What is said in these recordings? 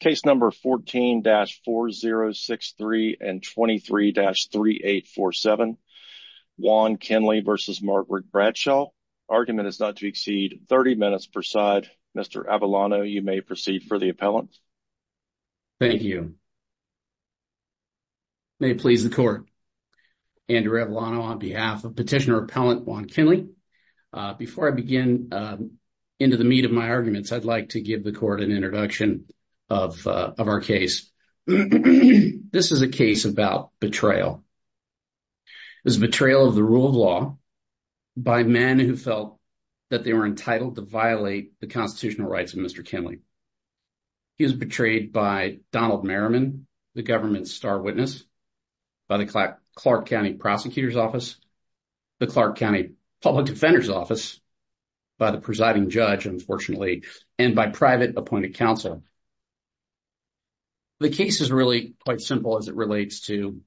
Case number 14-4063 and 23-3847. Juan Kinley versus Margaret Bradshaw. Argument is not to exceed 30 minutes per side. Mr. Avellano, you may proceed for the appellant. Thank you. May it please the court. Andrew Avellano on behalf of Petitioner Appellant Juan Kinley. Before I begin into the meat of my arguments, I'd like to give the court an introduction of our case. This is a case about betrayal. It's a betrayal of the rule of law by men who felt that they were entitled to violate the constitutional rights of Mr. Kinley. He was betrayed by Donald Merriman, the government's star witness, by the Clark County Prosecutor's Office, the Clark County Public Defender's Office, by the presiding judge, unfortunately, and by private appointed counsel. The case is really quite simple as it relates to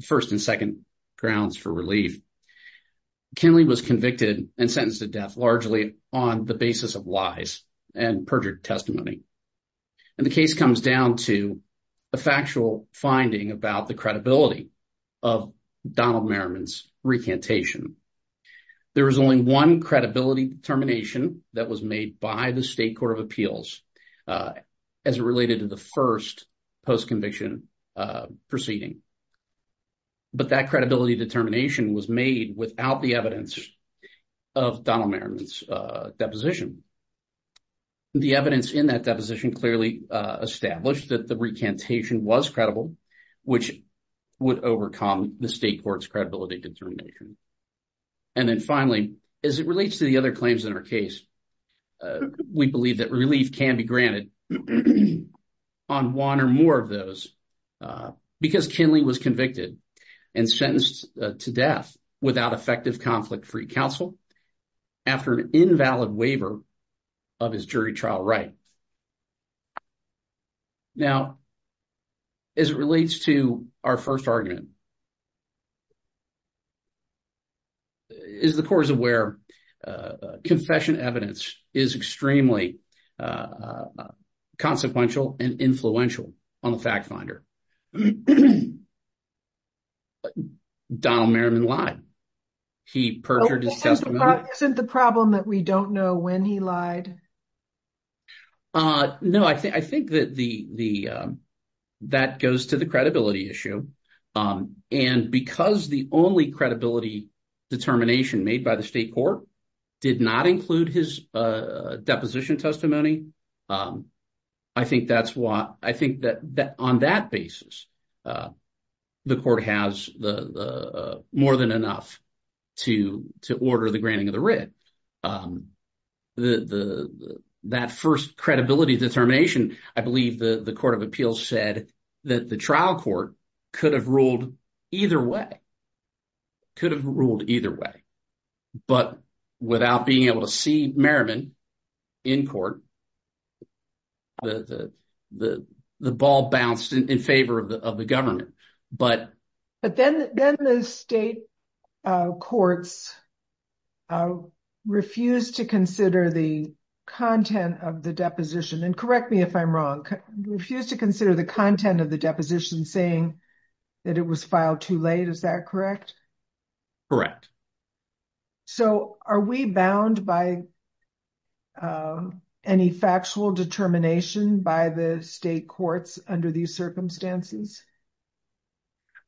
first and second grounds for relief. Kinley was convicted and sentenced to death largely on the basis of lies and perjured testimony. And the case comes down to a factual finding about the credibility of Donald Merriman's recantation. There is only one credibility determination that was made by the State Court of Appeals as it related to the first post-conviction proceeding. But that credibility determination was made without the evidence of Donald Merriman's deposition. The evidence in that deposition clearly established that the recantation was credible, which would overcome the State Court's credibility determination. And then finally, as it relates to the other claims in our case, we believe that relief can be granted on one or more of those because Kinley was convicted and sentenced to death without effective conflict-free counsel after an invalid waiver of his jury trial right. Now, as it relates to our first argument, as the Court is aware, confession evidence is extremely consequential and influential on the fact finder. Donald Merriman lied. He perjured his testimony. Isn't the problem that we don't know when he lied? No, I think that goes to the credibility issue. And because the only credibility determination made by the State Court did not include his deposition testimony, I think that's why I think that on that basis, the Court has more than enough to order the granting of the writ. That first credibility determination, I believe the Court of Appeals said that the trial court could have ruled either way, could have ruled either way. But without being able to see Merriman in court, the ball bounced in favor of the government. But then the State Courts refused to consider the content of the deposition and correct me if I'm wrong, refused to consider the content of the deposition saying that it was filed too late. Is that correct? Correct. So are we bound by any factual determination by the State Courts under these circumstances?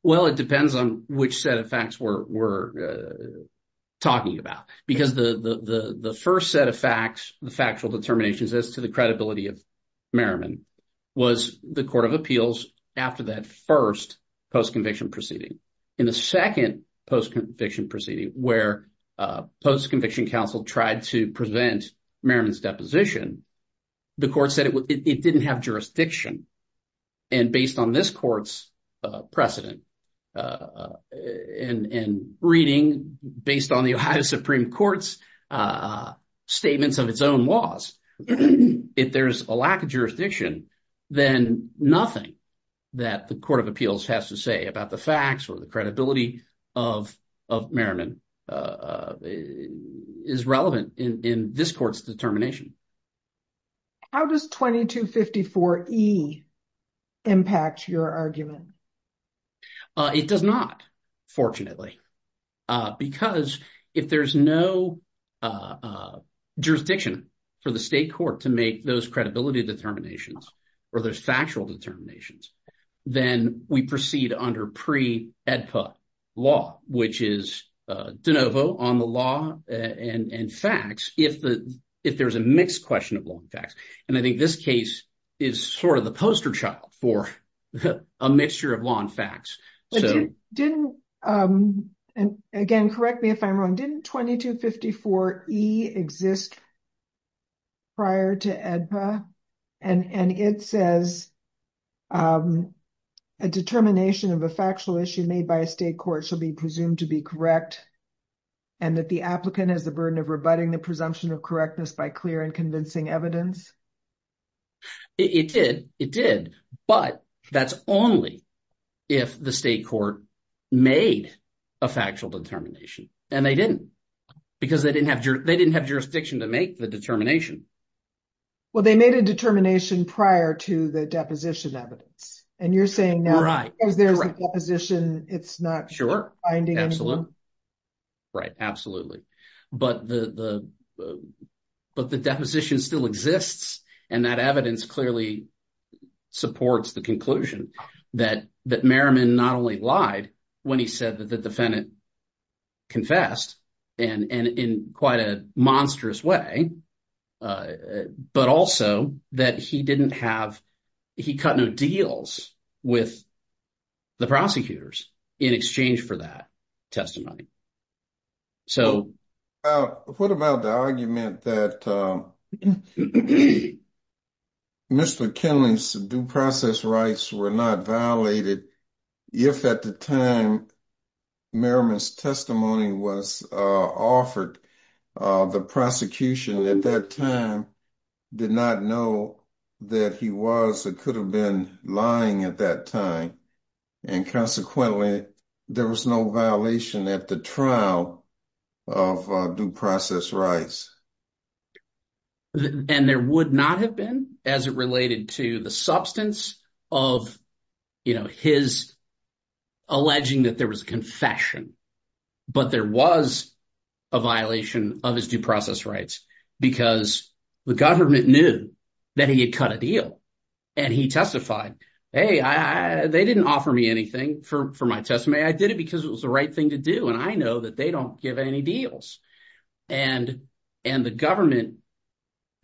Well, it depends on which set of facts we're talking about. Because the first set of facts, the factual determinations as to the credibility of Merriman was the Court of Appeals after that first post-conviction proceeding. In the second post-conviction proceeding where post-conviction counsel tried to prevent Merriman's deposition, the Court said it didn't have jurisdiction. And based on this Court's precedent and reading based on the Ohio Supreme Court's statements of its own laws, if there's a lack of jurisdiction, then nothing that the Court of Appeals has to say about the facts or the credibility of Merriman is relevant in this Court's determination. How does 2254E impact your argument? It does not, fortunately, because if there's no jurisdiction for the State Court to make those credibility determinations or those factual determinations, then we proceed under pre-EDPA law, which is de novo on the law and facts if there's a mixed question of law and facts. And I think this case is sort of the poster child for a mixture of law and facts. Didn't, and again, correct me if I'm wrong, didn't 2254E exist prior to EDPA? And it says a determination of a factual issue made by a State Court shall be presumed to be correct and that the applicant has the burden of rebutting the presumption of correctness by clear and convincing evidence. It did. It did. But that's only if the State Court made a factual determination. And they didn't because they didn't have jurisdiction to make the determination. Well, they made a determination prior to the deposition evidence. And you're saying now, because there's a deposition, it's not finding. Absolutely. Right. Absolutely. But the deposition still exists and that evidence clearly supports the conclusion that Merriman not only lied when he said that the defendant confessed and in quite a monstrous way, but also that he didn't have, he cut no deals with the prosecutors in exchange for that testimony. So what about the argument that Mr. Kinley's due process rights were not violated if at the time Merriman's testimony was offered, the prosecution at that time did not know that he was or could have been lying at that time. And consequently, there was no violation at the trial of due process rights. And there would not have been as it related to the substance of his alleging that there was a confession. But there was a violation of his due process rights because the government knew that he had cut a deal and he testified, hey, they didn't offer me anything for my testimony. I did it because it was the right thing to do. And I know that they don't give any deals. And the government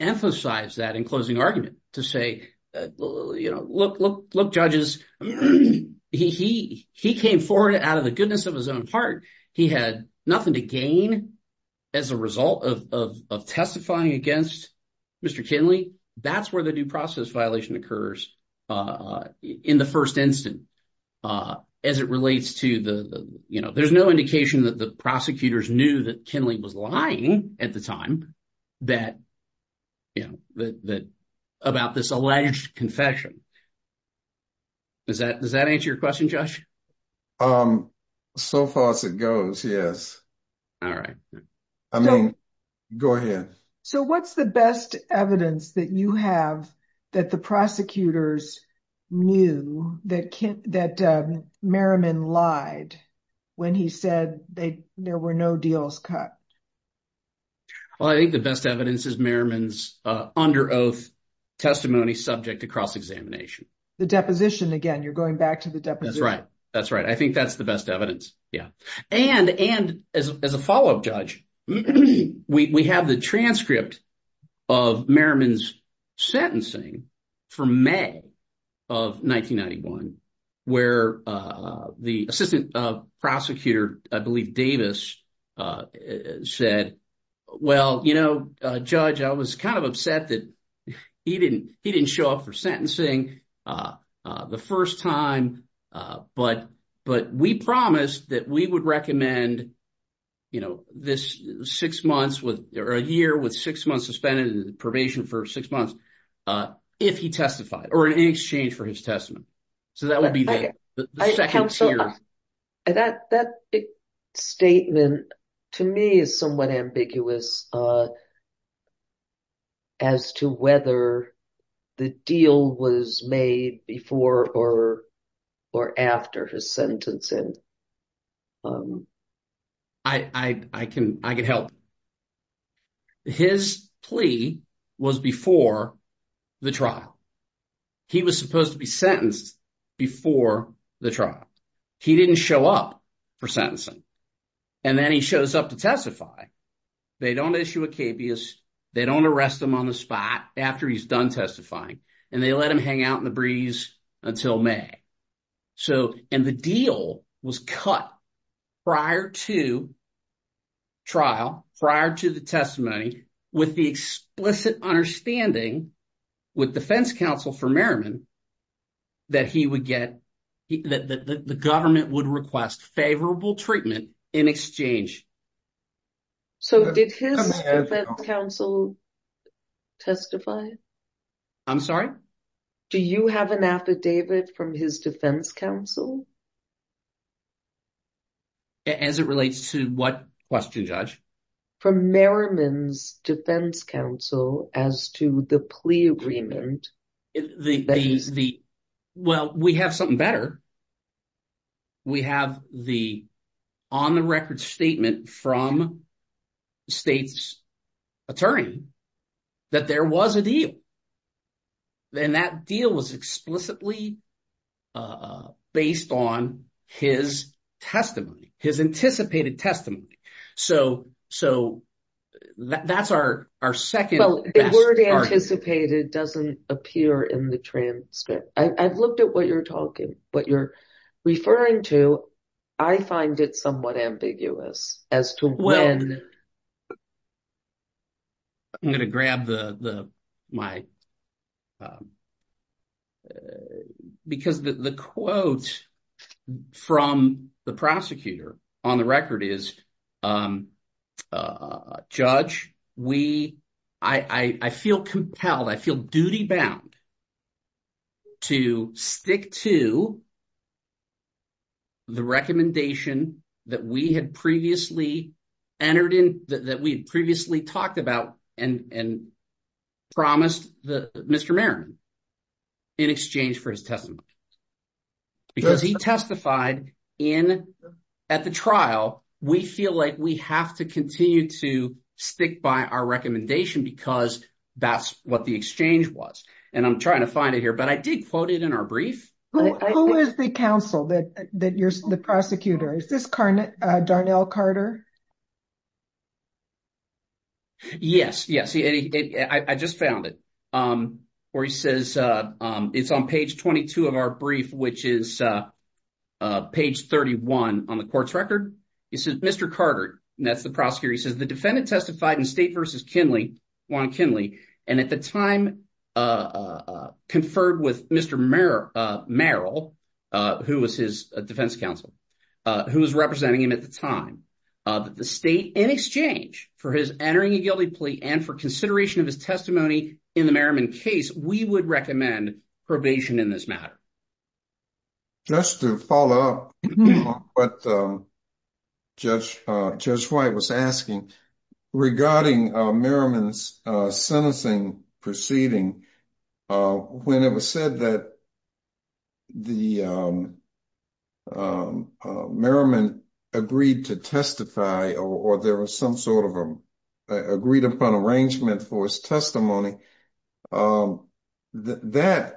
emphasized that in closing argument to say, look, judges, he came forward out of the goodness of his own heart. He had nothing to gain as a result of testifying against Mr. Kinley. That's where the due process violation occurs in the first instant. There's no indication that the prosecutors knew that Kinley was lying at the time about this alleged confession. Does that answer your question, Josh? So far as it goes, yes. All right. I mean, go ahead. So what's the best evidence that you have that the prosecutors knew that Merriman lied when he said there were no deals cut? Well, I think the best evidence is Merriman's under oath testimony subject to cross-examination. The deposition, again, you're going back to the deposition. That's right. That's right. I think that's the best evidence. Yeah. And as a follow-up judge, we have the transcript of Merriman's sentencing from May of 1991, where the assistant prosecutor, I believe Davis, said, well, you know, Judge, I was kind of upset that he didn't show up for six months or a year with six months suspended and probation for six months, if he testified or in exchange for his testimony. So that would be the second tier. That statement, to me, is somewhat ambiguous as to whether the deal was made before or after his sentencing. I can help. His plea was before the trial. He was supposed to be sentenced before the trial. He didn't show up for sentencing. And then he shows up to testify. They don't issue a capious, they don't arrest him on the spot after he's done testifying, and they let him hang out in the breeze until May. And the deal was cut prior to trial, prior to the testimony, with the explicit understanding with defense counsel for Merriman that he would get, that the government would request favorable treatment in exchange. So did his defense counsel testify? I'm sorry? Do you have an affidavit from his defense counsel? As it relates to what question, Judge? From Merriman's defense counsel as to the plea agreement. Well, we have something better. We have the on-the-record statement from the state's attorney that there was a deal. And that deal was explicitly based on his testimony, his anticipated testimony. So that's our second- Well, the word anticipated doesn't appear in the transcript. I've looked at what you're talking, what you're referring to. I find it somewhat ambiguous as to when- I'm going to grab the, my, because the quote from the prosecutor on the record is, Judge, we, I feel compelled, I feel duty-bound to stick to the recommendation that we had previously entered in, that we had previously talked about and promised Mr. Merriman in exchange for his testimony. Because he testified in, at the trial, we feel like we have to continue to stick by our recommendation because that's what the exchange was. And I'm trying to find it here, but I did quote it in our brief. Who is the counsel that you're, the prosecutor? Is this Darnell Carter? Yes, yes. I just found it. Or he says, it's on page 22 of our brief, which is page 31 on the court's record. He says, Mr. Carter, and that's the prosecutor, he says, the defendant testified in State v. Kinley, Juan Kinley, and at the time conferred with Mr. Merrill, who was his defense counsel, who was representing him at the time, that the state, in exchange for his entering a guilty plea and for consideration of his testimony in the Merriman case, we would recommend probation in this matter. Just to follow up what Judge White was asking regarding Merriman's sentencing proceeding, when it was said that the Merriman agreed to testify or there was some sort of agreed upon arrangement for his testimony, that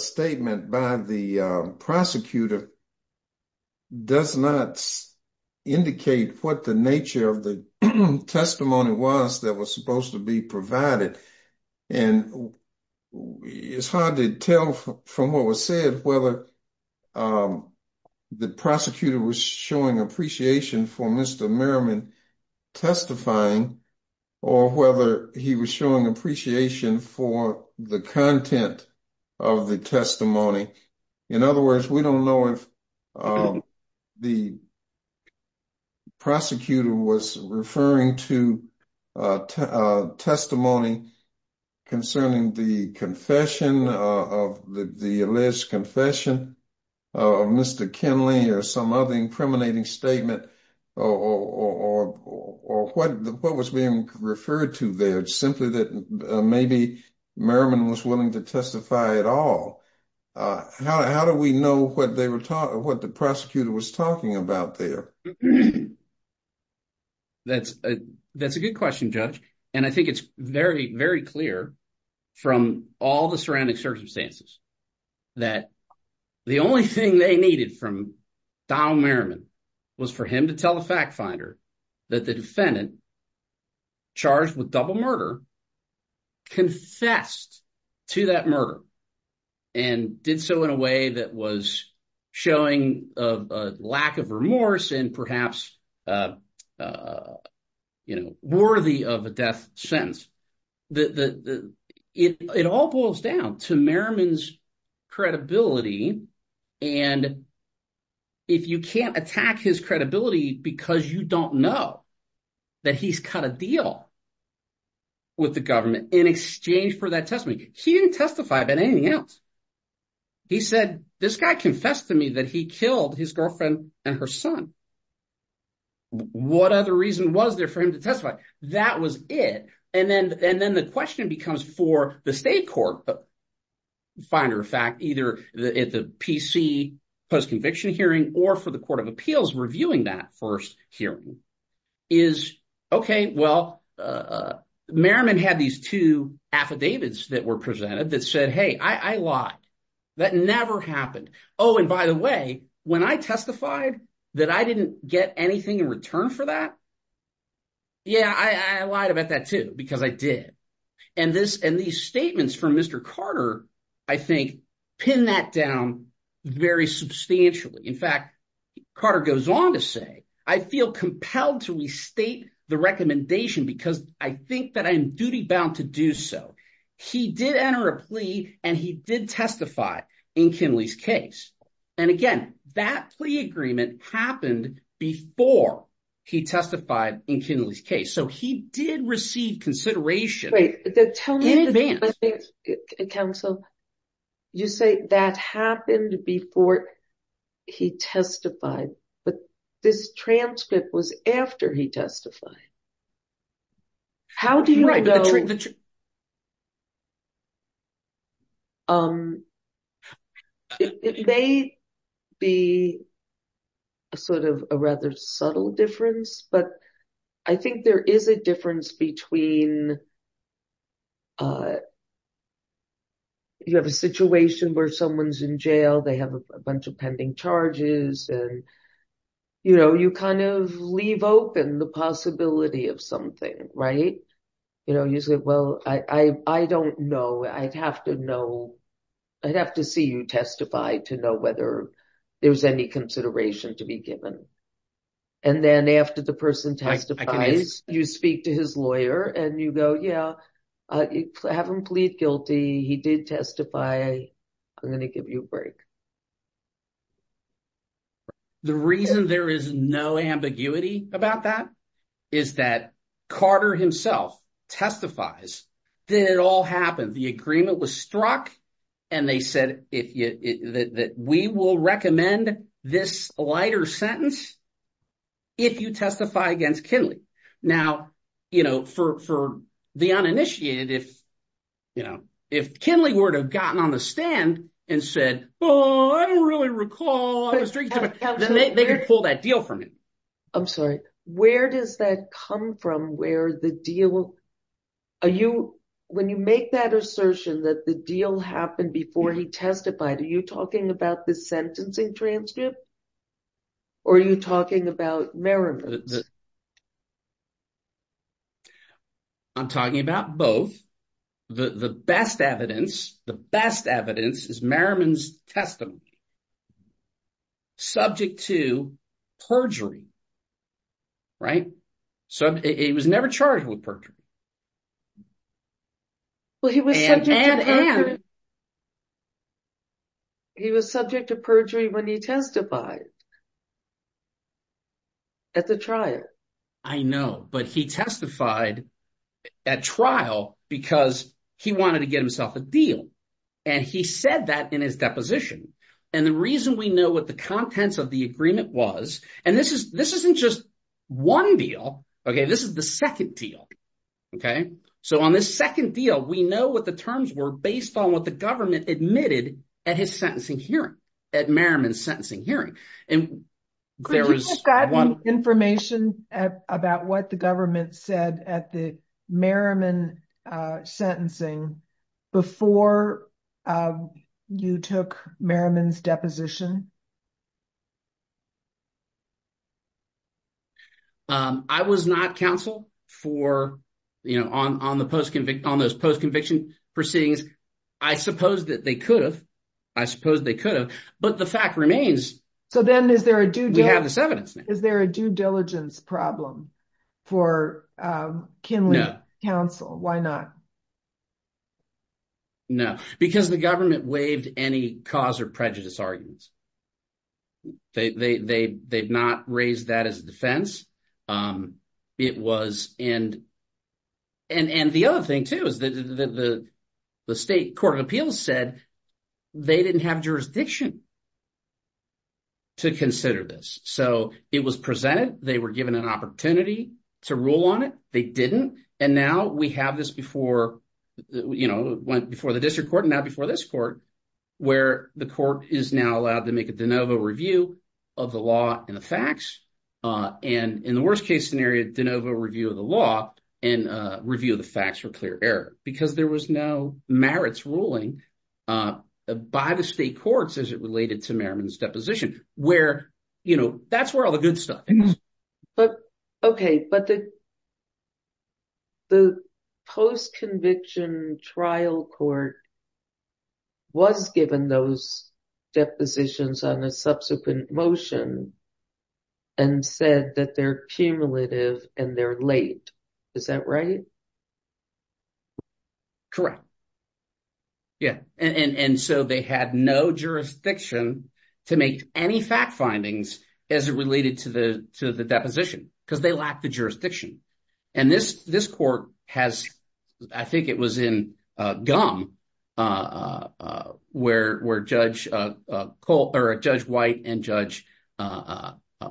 statement by the prosecutor does not indicate what the nature of the testimony was that was supposed to be provided. And it's hard to tell from what was said whether the prosecutor was showing appreciation for Mr. Merriman testifying or whether he was showing appreciation for the content of the testimony. In other words, we don't know if the prosecutor was referring to testimony concerning the confession of the alleged confession of Mr. Kinley or some other impriminating statement or what was being referred to there, simply that maybe Merriman was willing to testify at all. How do we know what the prosecutor was talking about there? That's a good question, Judge. And I think it's very, very clear from all the surrounding circumstances that the only thing they needed from Donald Merriman was for him to tell the fact finder that the defendant charged with double murder confessed to that murder and did so in a way that was showing a lack of remorse and perhaps worthy of a death sentence. It all boils down to Merriman's credibility. And if you can't attack his credibility because you don't know that he's cut a deal with the government in exchange for that testimony, he didn't testify about anything else. He said, this guy confessed to me that he killed his and her son. What other reason was there for him to testify? That was it. And then the question becomes for the state court, finder of fact, either at the PC post-conviction hearing or for the Court of Appeals reviewing that first hearing is, okay, well, Merriman had these two affidavits that were presented that said, hey, I lied. That never happened. Oh, and by the way, when I testified that I didn't get anything in return for that, yeah, I lied about that too, because I did. And these statements from Mr. Carter, I think, pin that down very substantially. In fact, Carter goes on to say, I feel compelled to restate the recommendation because I think I'm duty-bound to do so. He did enter a plea and he did testify in Kinley's case. And again, that plea agreement happened before he testified in Kinley's case. So he did receive consideration. Wait, tell me, counsel, you say that happened before he testified, but this transcript was after he testified. It may be a sort of a rather subtle difference, but I think there is a difference between you have a situation where someone's in jail, they have a bunch of pending the possibility of something, right? You say, well, I don't know. I'd have to see you testify to know whether there's any consideration to be given. And then after the person testifies, you speak to his lawyer and you go, yeah, I haven't plead guilty. He did testify. I'm going to give you a break. The reason there is no ambiguity about that is that Carter himself testifies that it all happened. The agreement was struck and they said that we will recommend this lighter sentence if you testify against Kinley. Now, for the uninitiated, if Kinley were to have gotten on the stand and said, oh, I don't really recall, they could pull that deal from him. I'm sorry. Where does that come from? When you make that assertion that the deal happened before he testified, are you talking about the sentencing transcript or are you talking about Merriman's? I'm talking about both. The best evidence, the best evidence is Merriman's testimony subject to perjury, right? So he was never charged with perjury. And? Well, he was subject to perjury when he testified at the trial. I know, but he testified at trial because he wanted to get himself a deal. And he said that in his deposition. And the reason we know what the contents of the agreement was, and this isn't just one deal. OK, this is the second deal. OK, so on this second deal, we know what the terms were based on what the government admitted at his sentencing hearing, at Merriman's sentencing hearing. And there is one information about what the government said at the Merriman sentencing before you took Merriman's deposition. I was not counsel for, you know, on those post-conviction proceedings. I suppose that they could have. I suppose they could have. But the fact remains. So then is there a due diligence problem for Kinley counsel? Why not? No, because the government waived any cause or prejudice arguments. They've not raised that as a defense. It was. And the other thing, too, is that the state court of appeals said they didn't have jurisdiction to consider this. So it was presented. They were given an opportunity to rule on it. They didn't. And now we have this before, you know, before the district court and now before this court, where the court is now allowed to make a de novo review of the law and the facts. And in the worst case scenario, de novo review of the law and review of the facts for clear error, because there was no merits ruling by the state courts as it related to Merriman's deposition where, you know, that's where all the good stuff. But OK, but the. The post conviction trial court. Was given those depositions on a subsequent motion. And said that they're cumulative and they're late. Is that right? Correct. Yeah, and so they had no jurisdiction to make any fact findings as it related to the to the deposition because they lack the jurisdiction. And this this court has I think it was in gum where where Judge Cole or Judge White and Judge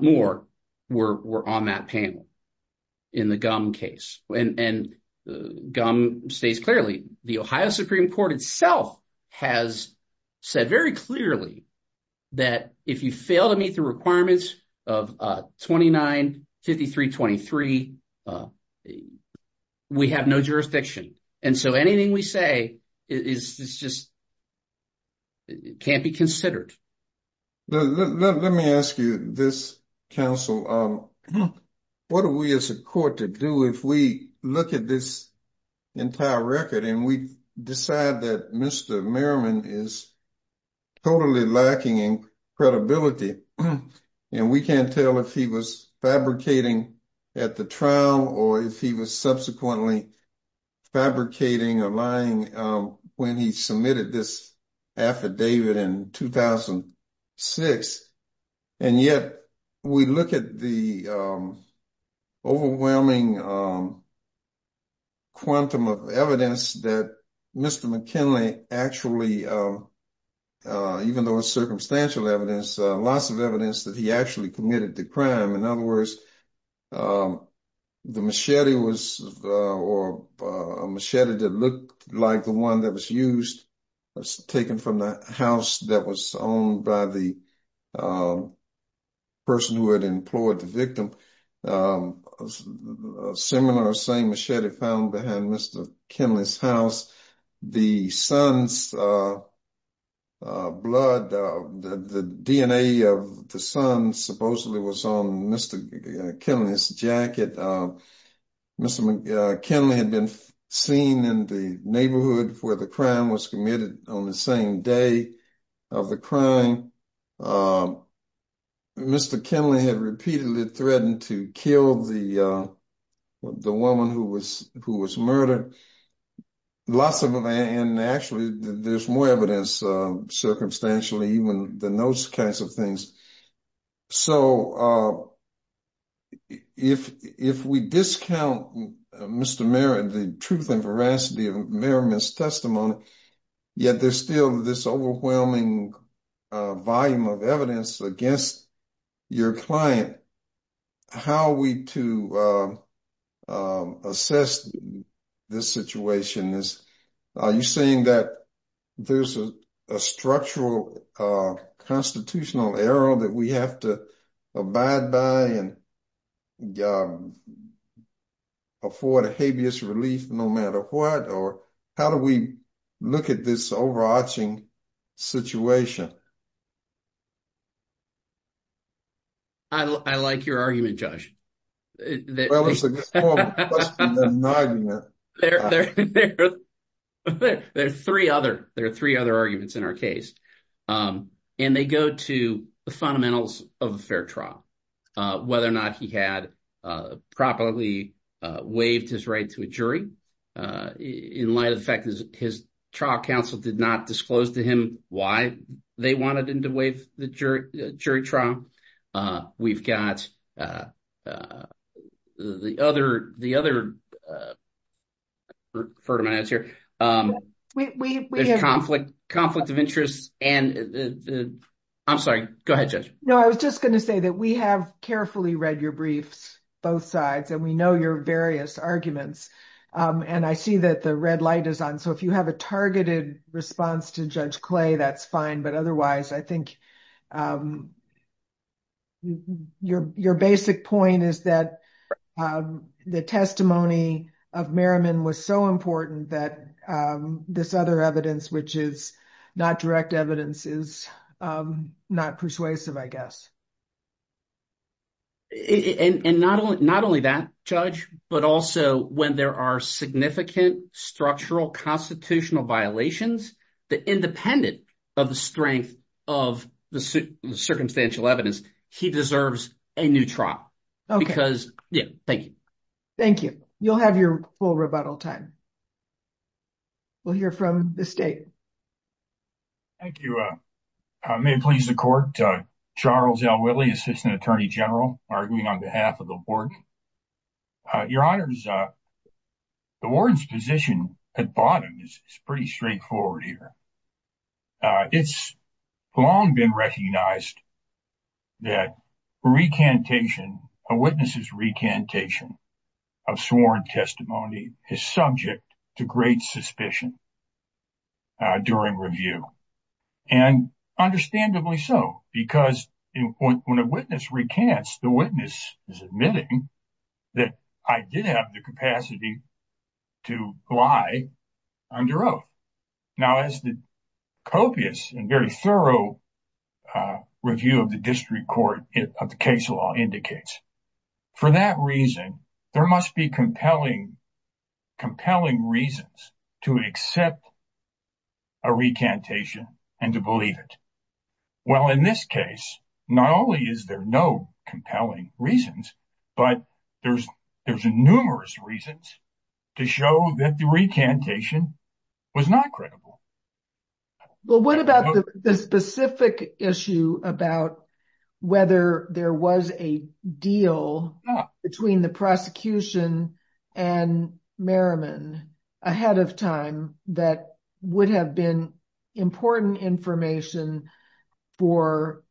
Moore were on that panel in the gum case. And gum stays clearly. The Ohio Supreme Court itself has said very clearly that if you fail to meet the requirements of 29, 53, 23. We have no jurisdiction and so anything we say is just. Can't be considered. Let me ask you this council. What are we as a court to do if we look at this? Entire record and we decide that Mr. Merriman is. Totally lacking in credibility and we can't tell if he was fabricating at the trial or if he was subsequently fabricating or lying when he submitted this affidavit in 2006. And yet we look at the. Overwhelming. Quantum of evidence that Mr. McKinley actually. Even though it's circumstantial evidence, lots of evidence that he actually committed the crime. In other words, the machete was or machete that looked like the one that was used. Was taken from the house that was owned by the. Person who had employed the victim. Seminar same machete found behind Mr. Kenley's house. The son's. Blood the DNA of the sun supposedly was on Mr. Kenley's jacket. Mr. Kenley had been seen in the neighborhood where the crime was committed on the same day. Of the crime. Mr. Kenley had repeatedly threatened to kill the. The woman who was who was murdered. Lots of them and actually there's more evidence circumstantially even than those kinds of things. So. If if we discount Mr. Merritt, the truth and veracity of Merriman's testimony. Yet there's still this overwhelming. Volume of evidence against your client. How are we to? Assess this situation is. Are you saying that there's a structural constitutional error that we have to abide by and. Afford a habeas relief, no matter what, or how do we look at this overarching situation? I like your argument, Josh. Well, there's 3 other. There are 3 other arguments in our case and they go to the fundamentals of a fair trial. Whether or not he had properly waived his right to a jury. In light of the fact that his trial counsel did not disclose to him. Why they wanted him to waive the jury jury trial. We've got. The other the other. For my answer, we conflict conflict of interest and. I'm sorry, go ahead. No, I was just going to say that we have carefully read your briefs. Both sides and we know your various arguments. And I see that the red light is on. So if you have a targeted response to judge clay, that's fine. Otherwise, I think. Your basic point is that the testimony of Merriman was so important that. This other evidence, which is not direct evidence is not persuasive, I guess. And not only not only that judge, but also when there are significant structural constitutional violations, the independent of the strength of the circumstantial evidence. He deserves a new trial because, yeah, thank you. Thank you. You'll have your full rebuttal time. We'll hear from the state. Thank you may please the court. Charles L. Whitley, assistant attorney general arguing on behalf of the board. Your honors, the warden's position at bottom is pretty straightforward here. It's long been recognized that recantation a witness's recantation of sworn testimony is subject to great suspicion. During review and understandably so, because when a witness recants, the witness is admitting that I did have the capacity to lie under oath. Now, as the copious and very thorough review of the district court of the case law indicates. For that reason, there must be compelling, compelling reasons to accept a recantation and to believe it. Well, in this case, not only is there no compelling reasons, but there's, there's numerous reasons to show that the recantation was not credible. Well, what about the specific issue about whether there was a deal between the prosecution and Merriman ahead of time that would have been important information for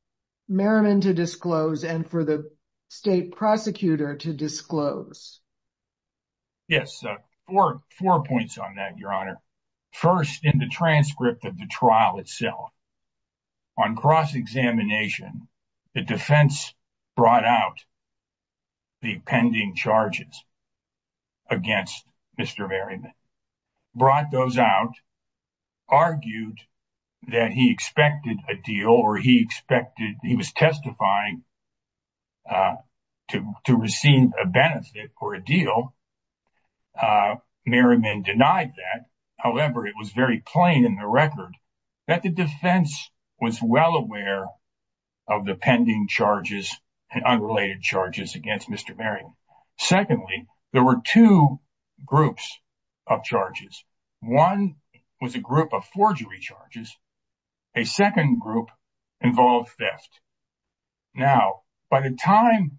Merriman to disclose and for the state prosecutor to disclose? Yes, four points on that, your honor. First, in the transcript of the trial itself, on cross-examination, the defense brought out the pending charges against Mr. Merriman, brought those out, argued that he expected a deal or he expected, he was testifying to, to receive a benefit or a deal. Merriman denied that. However, it was very plain in the record that the defense was well aware of the pending charges and unrelated charges against Mr. Merriman. Secondly, there were two groups of charges. One was a group of forgery charges. A second group involved theft. Now, by the time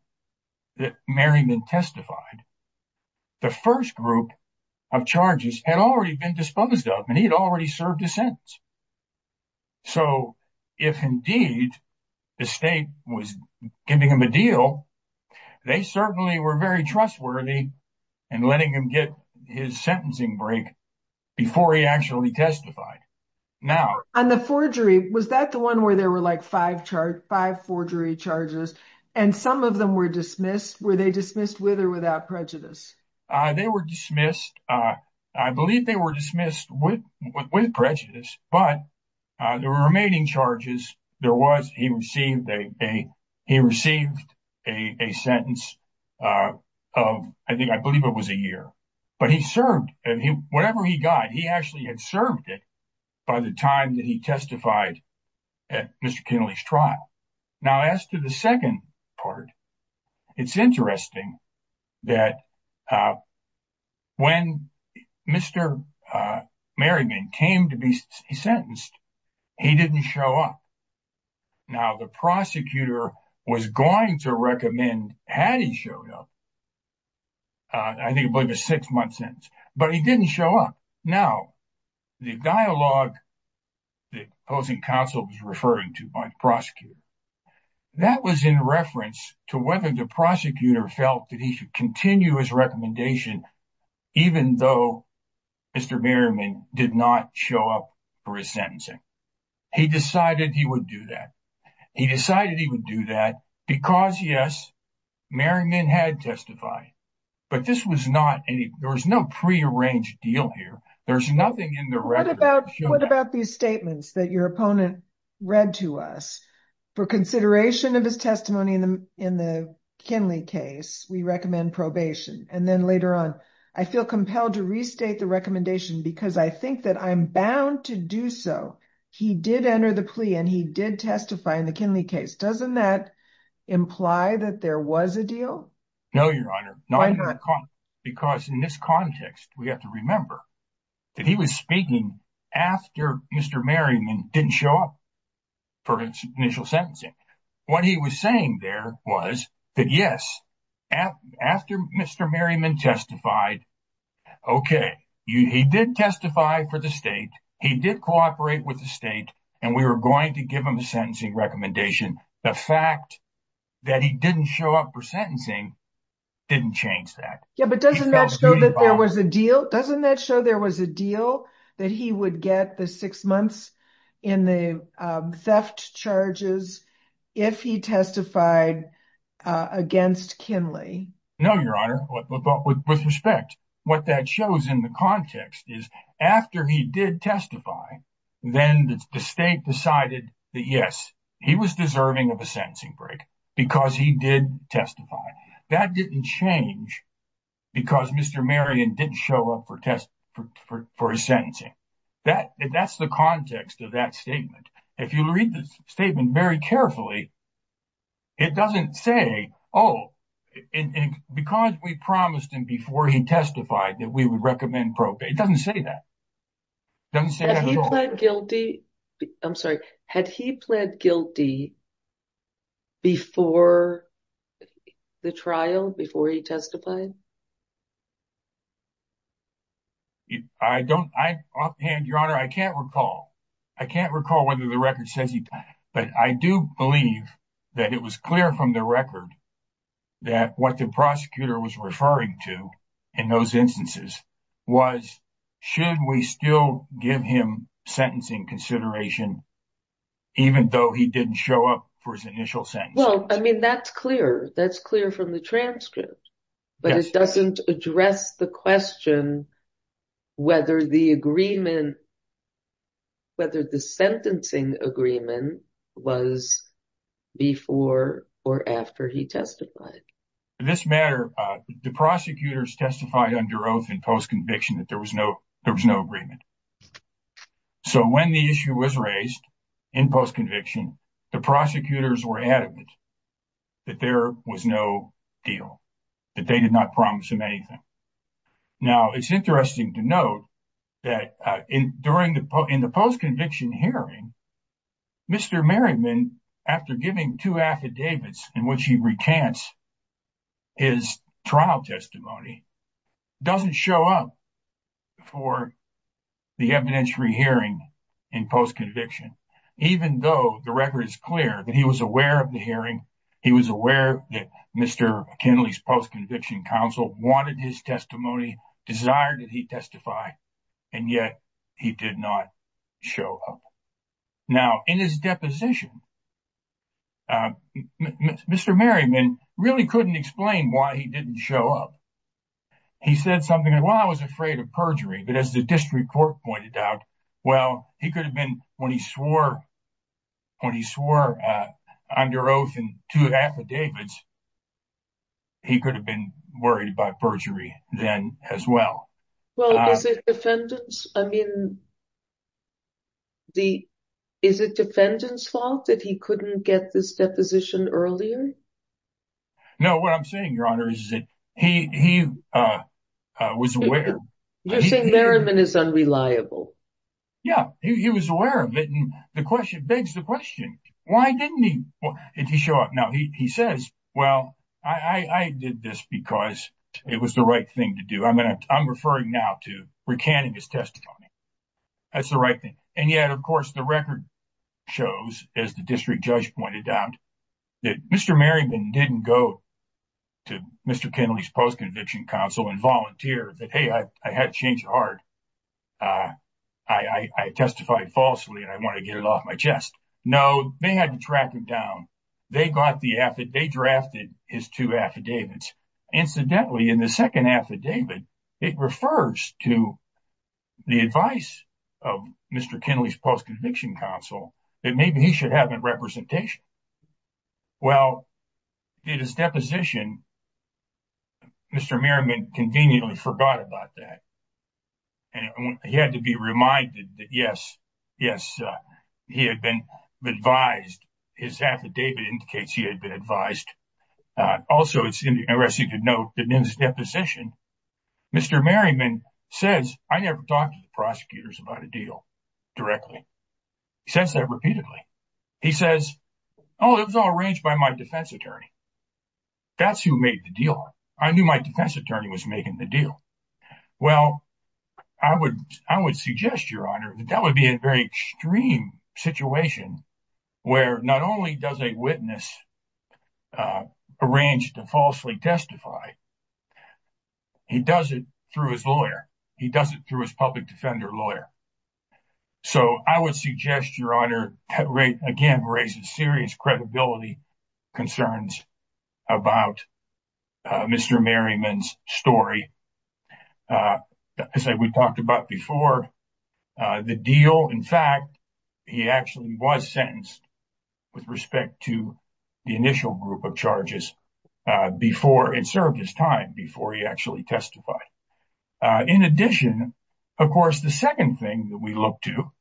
that Merriman testified, the first group of charges had already been disposed of and he had already served a sentence. So, if indeed the state was giving him a deal, they certainly were very trustworthy in letting him get his sentencing break before he actually testified. Now- On the forgery, was that the one where there were like five charge, five forgery charges and some of them were dismissed? Were they dismissed with or without prejudice? They were dismissed. I believe they were dismissed with prejudice, but the remaining charges, there was, he received a sentence of, I think, I believe it was a year. But he served, whatever he got, he actually had served it by the time that he testified at Mr. Kennelly's trial. Now, as to the second part, it's interesting that when Mr. Merriman came to be sentenced, he didn't show up. Now, the prosecutor was going to recommend had he showed up, I think it was a six-month sentence, but he didn't show up. Now, the dialogue that opposing counsel was referring to by the prosecutor, that was in reference to whether the prosecutor felt that he should continue his recommendation, even though Mr. Merriman did not show up for his sentencing. He decided he would do that. He decided he would do that because, yes, Merriman had testified, but this was not any, there was no prearranged deal here. There's nothing in the record that showed up. What about these statements that your opponent read to us? For consideration of his testimony in the Kennelly case, we recommend probation. And then later on, I feel compelled to restate the recommendation because I think that I'm bound to do so. He did enter the plea and he did testify in the Kennelly case. Doesn't that imply that there was a deal? No, Your Honor. Why not? Because in this context, we have to remember that he was speaking after Mr. Merriman didn't show up for initial sentencing. What he was saying there was that, yes, after Mr. Merriman testified, okay, he did testify for the state, he did cooperate with the state, and we were going to give him a sentencing recommendation. The fact that he didn't show up for sentencing didn't change that. Yeah, but doesn't that show that there was a deal? Doesn't that show there was a deal that he would get the six months in the theft charges if he testified against Kennelly? No, Your Honor. With respect, what that shows in the context is after he did testify, then the state decided that, yes, he was deserving of a sentencing break because he did testify. That didn't change because Mr. Merriman didn't show up for his sentencing. That's the context of that statement. If you read the statement very carefully, it doesn't say, oh, because we promised him before he testified that we would recommend probate. It doesn't say that. It doesn't say that at all. I'm sorry. Had he pled guilty before the trial, before he testified? I don't, offhand, Your Honor, I can't recall. I can't recall whether the record says he did, but I do believe that it was clear from the record that what the prosecutor was referring to in those instances was should we still give him sentencing consideration even though he didn't show up for his initial sentence? Well, I mean, that's clear. That's clear from the transcript. But it doesn't address the question whether the agreement, whether the sentencing agreement was before or after he testified. In this matter, the prosecutors testified under oath in post-conviction that there was no agreement. So when the issue was raised in post-conviction, the prosecutors were adamant that there was no deal, that they did not promise him anything. Now, it's interesting to note that in the post-conviction hearing, Mr. Merriman, after giving two affidavits in which he recants his trial testimony, doesn't show up for the evidentiary hearing in post-conviction, even though the record is clear that he was aware of the hearing, he was aware that Mr. Kinley's post-conviction counsel wanted his testimony, desired that he testify, and yet he did not show up. Now, in his deposition, Mr. Merriman really couldn't explain why he didn't show up. He said something like, well, I was afraid of perjury, but as the district court pointed out, well, he could have been, when he swore under oath in two affidavits, he could have been worried about perjury then as well. Well, is it defendant's, I mean, is it defendant's fault that he couldn't get this deposition earlier? No, what I'm saying, Your Honor, is that he was aware. You're saying Merriman is unreliable. Yeah, he was aware of it, and the question begs the question, why didn't he show up? Now, he says, well, I did this because it was the right thing to do. I'm going to, I'm referring now to recanting his testimony, that's the right thing. And yet, of course, the record shows, as the district judge pointed out, that Mr. Merriman didn't go to Mr. Kennelly's post-conviction counsel and volunteer that, hey, I had to change the heart. I testified falsely, and I want to get it off my chest. No, they had to track him down. They got the, they drafted his two affidavits. Incidentally, in the second affidavit, it refers to the advice of Mr. Kennelly's post-conviction counsel that maybe he should have been representational. Well, in his deposition, Mr. Merriman conveniently forgot about that. And he had to be reminded that, yes, yes, he had been advised. His affidavit indicates he had been advised. Also, it's interesting to note that in his deposition, Mr. Merriman says, I never talked to the prosecutors about a deal directly. He says that repeatedly. He says, oh, it was all arranged by my defense attorney. That's who made the deal. I knew my defense attorney was making the deal. Well, I would suggest, Your Honor, that that would be a very extreme situation where not only does a witness arrange to falsely testify, he does it through his lawyer. He does it through his public defender lawyer. So I would suggest, Your Honor, that again raises serious credibility concerns about Mr. Merriman's story. As I said, we talked about before the deal. In fact, he actually was sentenced with respect to the initial group of charges before it served his time, before he actually testified. In addition, of course, the second thing that we look to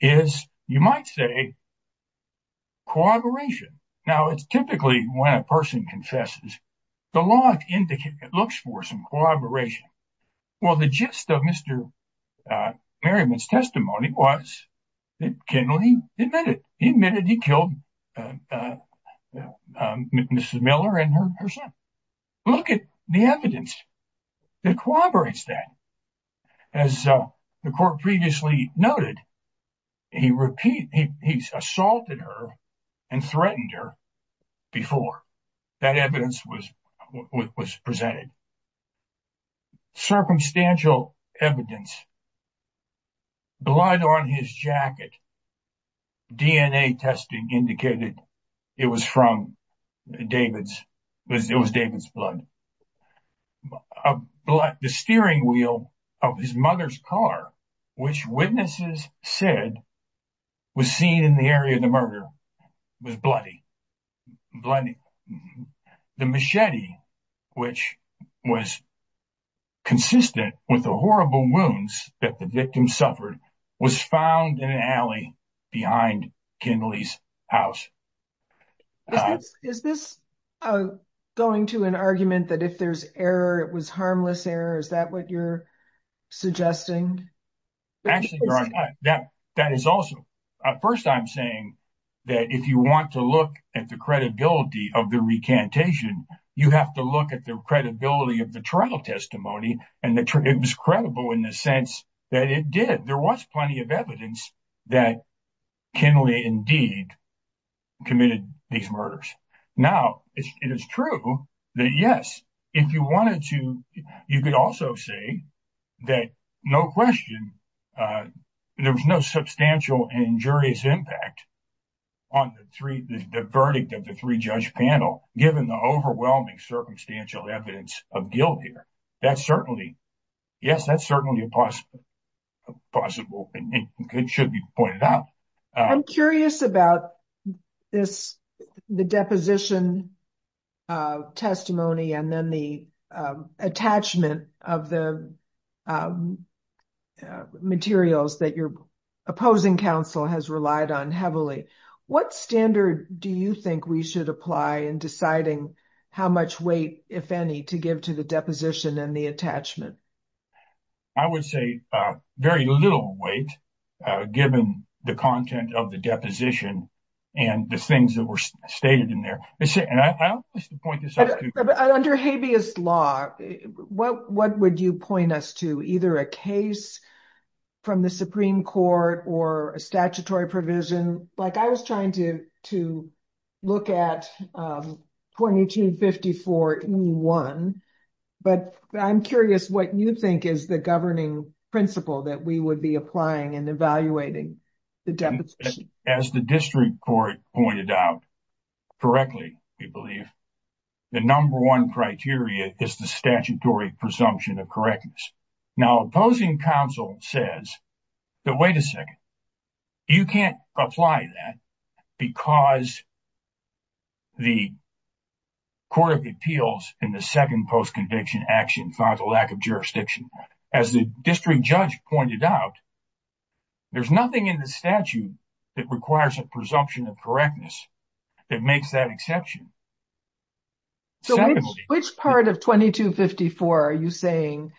is, you might say, corroboration. Now, it's typically when a person confesses, the law looks for some corroboration. Well, the gist of Mr. Merriman's testimony was that Kenley admitted he killed Mrs. Miller and her son. Look at the evidence that corroborates that. As the court previously noted, he assaulted her and threatened her before that evidence was presented. Circumstantial evidence. Blood on his jacket. DNA testing indicated it was from David's. It was David's blood. The steering wheel of his mother's car, which witnesses said was seen in the area of the murder, was bloody. The machete, which was consistent with the horrible wounds that the victim suffered, was found in an alley behind Kenley's house. Is this going to an argument that if there's error, it was harmless error? Is that what you're suggesting? Actually, Your Honor, that is also. First, I'm saying that if you want to look at the credibility of the recantation, you have to look at the credibility of the trial testimony. It was credible in the sense that it did. There was plenty of evidence that Kenley indeed committed these murders. Now, it is true that, yes, if you wanted to, you could also say that no question, there was no substantial and injurious impact on the verdict of the three-judge panel, given the overwhelming circumstantial evidence of guilt here. That's certainly, yes, that's certainly a possible thing that should be pointed out. I'm curious about the deposition testimony and then the attachment of the materials that your opposing counsel has relied on heavily. What standard do you think we should apply in deciding how much weight, if any, to give to the deposition and the attachment? I would say very little weight, given the content of the deposition and the things that were stated in there. Under habeas law, what would you point us to? Either a case from the Supreme Court or a statutory provision? I was trying to look at 2254E1, but I'm curious what you think is the governing principle that we would be applying and evaluating the deposition. As the district court pointed out correctly, we believe, the number one criteria is the statutory presumption of correctness. Now, opposing counsel says, but wait a second, you can't apply that because the court of appeals in the second post-conviction action found a lack of jurisdiction. As the district judge pointed out, there's nothing in the statute that requires a presumption of correctness that makes that exception. So, which part of 2254 are you saying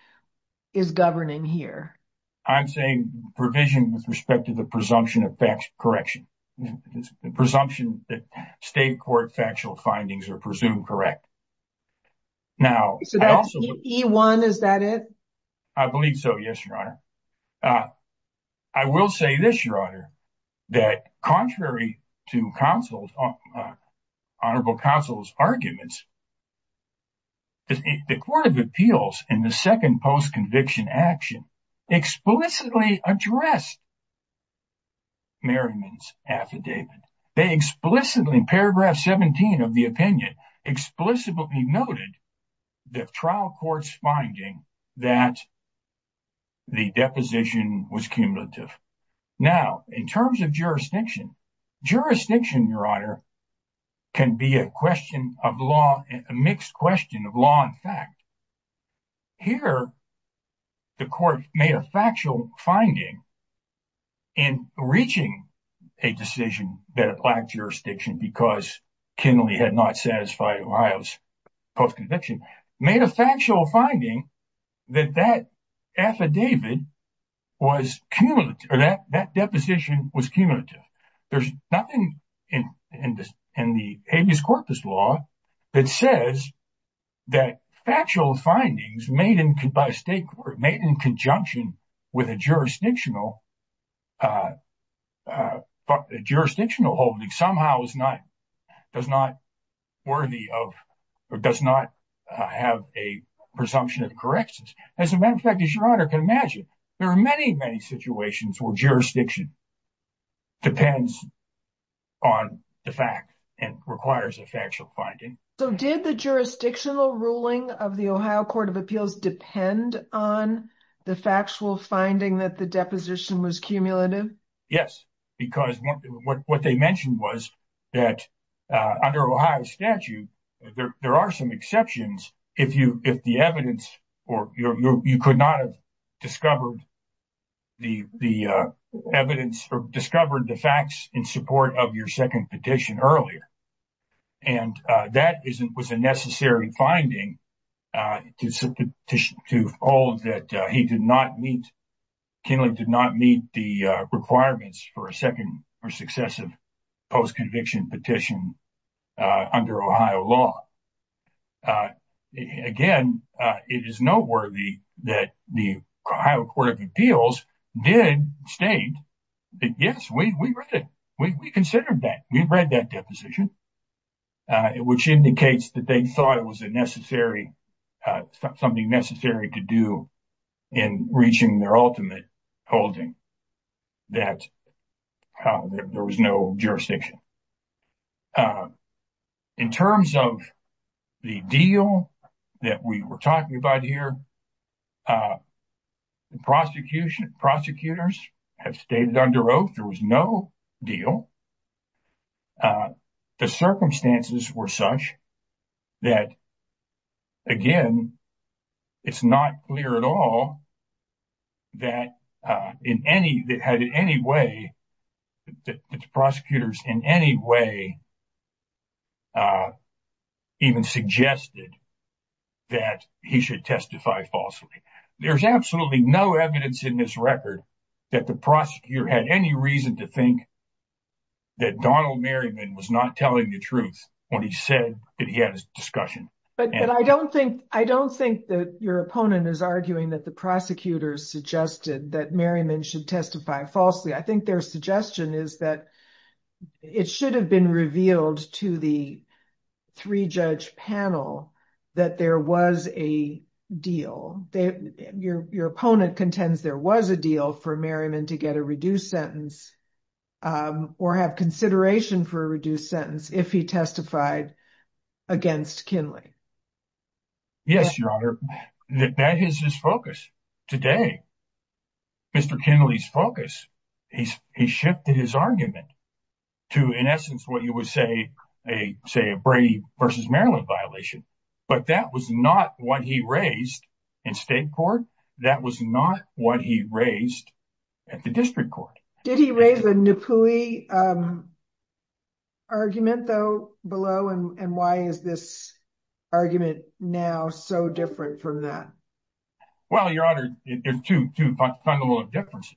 is governing here? I'm saying provision with respect to the presumption of correction. The presumption that state court factual findings are presumed correct. So, that's 2254E1, is that it? I believe so, yes, Your Honor. I will say this, Your Honor, that contrary to honorable counsel's arguments, the court of appeals in the second post-conviction action explicitly addressed Merriman's affidavit. They explicitly, in paragraph 17 of the opinion, explicitly noted the trial court's finding that the deposition was cumulative. Now, in terms of jurisdiction, jurisdiction, Your Honor, can be a question of law, a mixed question of law and fact. Here, the court made a factual finding in reaching a decision that lacked jurisdiction because Kinley had not satisfied Ohio's post-conviction, made a factual finding that that affidavit was cumulative, or that deposition was cumulative. There's nothing in the habeas corpus law that says that factual findings made in conjunction with a jurisdictional holding somehow does not have a presumption of correctness. As a matter of fact, as Your Honor can imagine, there are many, many situations where jurisdiction depends on the fact and requires a factual finding. So, did the jurisdictional ruling of the Ohio Court of Appeals depend on the factual finding that the deposition was cumulative? Yes, because what they mentioned was that under Ohio statute, there are some exceptions if the evidence, or you could not have discovered the evidence or discovered the facts in support of your second petition earlier. And that was a necessary finding to all that he did not meet, Kinley did not meet the requirements for a second or successive post-conviction petition under Ohio law. Again, it is noteworthy that the Ohio Court of Appeals did state that, yes, we considered that, we've read that deposition, which indicates that they thought it was a necessary, something necessary to do in reaching their ultimate holding, that there was no jurisdiction. In terms of the deal that we were talking about here, prosecutors have stated under oath there was no deal. Now, the circumstances were such that, again, it's not clear at all that in any way, that the prosecutors in any way even suggested that he should testify falsely. There's absolutely no evidence in this record that the prosecutor had any reason to think that Donald Merriman was not telling the truth when he said that he had a discussion. But I don't think that your opponent is arguing that the prosecutors suggested that Merriman should testify falsely. I think their suggestion is that it should have been revealed to the three-judge panel that there was a deal. Your opponent contends there was a deal for Merriman to get a reduced sentence or have consideration for a reduced sentence if he testified against Kinley. Yes, Your Honor, that is his focus today. Mr. Kinley's focus, he shifted his argument to, in essence, what you would say a Brady versus Maryland violation. But that was not what he raised in state court. That was not what he raised at the district court. Did he raise a Napoli argument, though, below? And why is this argument now so different from that? Well, Your Honor, there are two fundamental differences.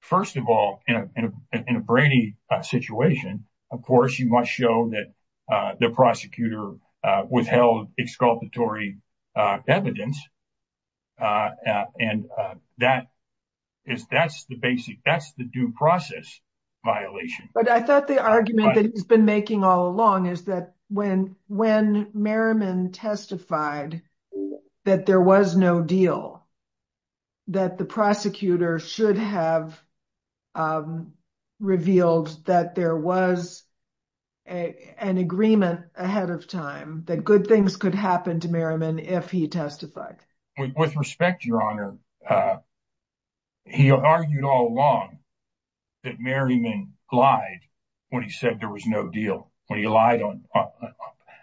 First of all, in a Brady situation, of course, you must show that the prosecutor withheld exculpatory evidence. And that's the basic, that's the due process violation. But I thought the argument that he's been making all along is that when Merriman testified that there was no deal, that the prosecutor should have revealed that there was an agreement ahead of time, that good things could happen to Merriman if he testified. With respect, Your Honor, he argued all along that Merriman lied when he said there was no deal, when he lied.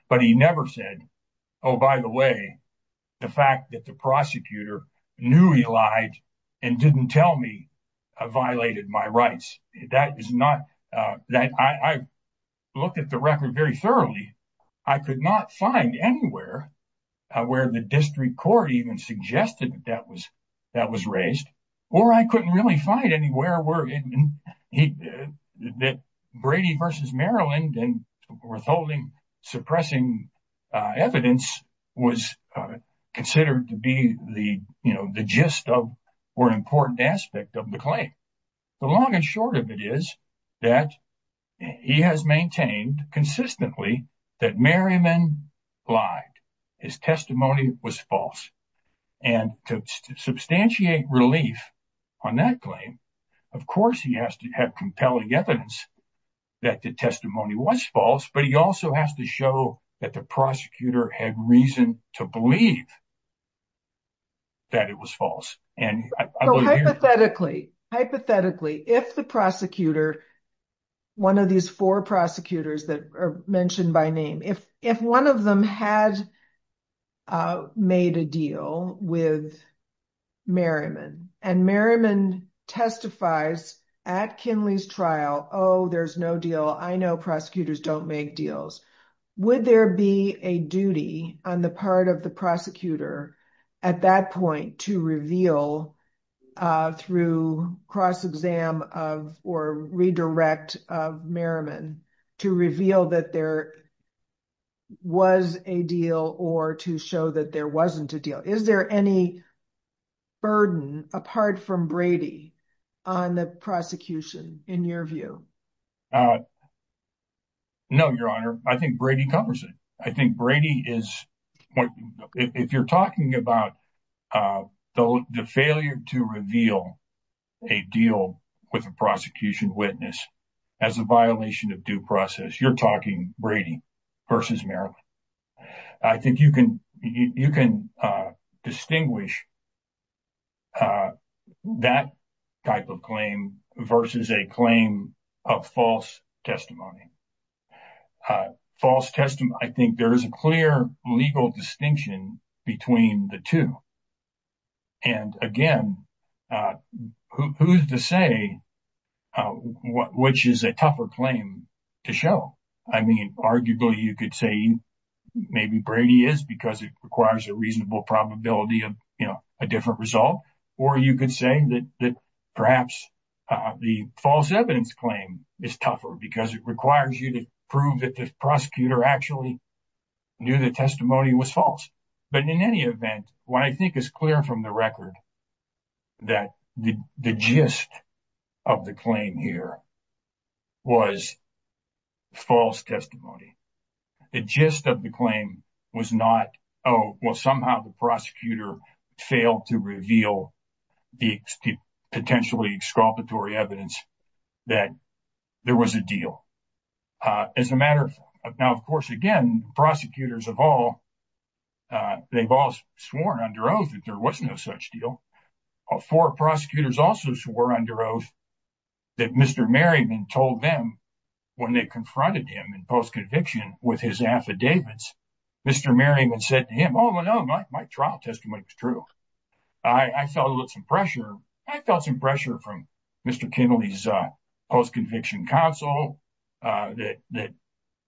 But he never said, oh, by the way, the fact that the prosecutor knew he lied and didn't tell me violated my rights. That is not, I looked at the record very thoroughly. I could not find anywhere where the district court even suggested that was raised. Or I couldn't really find anywhere where he that Brady versus Maryland and withholding suppressing evidence was considered to be the, you know, the gist of or important aspect of the claim. The long and short of it is that he has maintained consistently that Merriman lied. His testimony was false. And to substantiate relief on that claim, of course, he has to have compelling evidence that the testimony was false. But he also has to show that the prosecutor had reason to believe that it was false. And hypothetically, hypothetically, if the prosecutor, one of these four prosecutors that are mentioned by name, if one of them had made a deal with Merriman and Merriman testifies at Kinley's trial, oh, there's no deal. I know prosecutors don't make deals. Would there be a duty on the part of the prosecutor at that point to reveal a through cross-exam of or redirect Merriman to reveal that there was a deal or to show that there wasn't a deal? Is there any burden apart from Brady on the prosecution in your view? No, Your Honor. I think Brady covers it. I think Brady is, if you're talking about the failure to reveal a deal with a prosecution witness as a violation of due process, you're talking Brady versus Merriman. I think you can distinguish that type of claim versus a claim of false testimony. False testimony, I think there is a clear legal distinction between the two. And again, who's to say which is a tougher claim to show? I mean, arguably you could say maybe Brady is because it requires a reasonable probability of a different result, or you could say that perhaps the false evidence claim is tougher because it requires you to prove that the prosecutor actually knew the testimony was But in any event, what I think is clear from the record that the gist of the claim here was false testimony. The gist of the claim was not, oh, well, somehow the prosecutor failed to reveal the potentially exculpatory evidence that there was a deal. Now, of course, again, prosecutors of all, they've all sworn under oath that there was no such deal. Four prosecutors also swore under oath that Mr. Merriman told them when they confronted him in post-conviction with his affidavits, Mr. Merriman said to him, oh, no, my trial testimony was true. I felt some pressure. I felt some pressure from Mr. Kimmel, his post-conviction counsel, that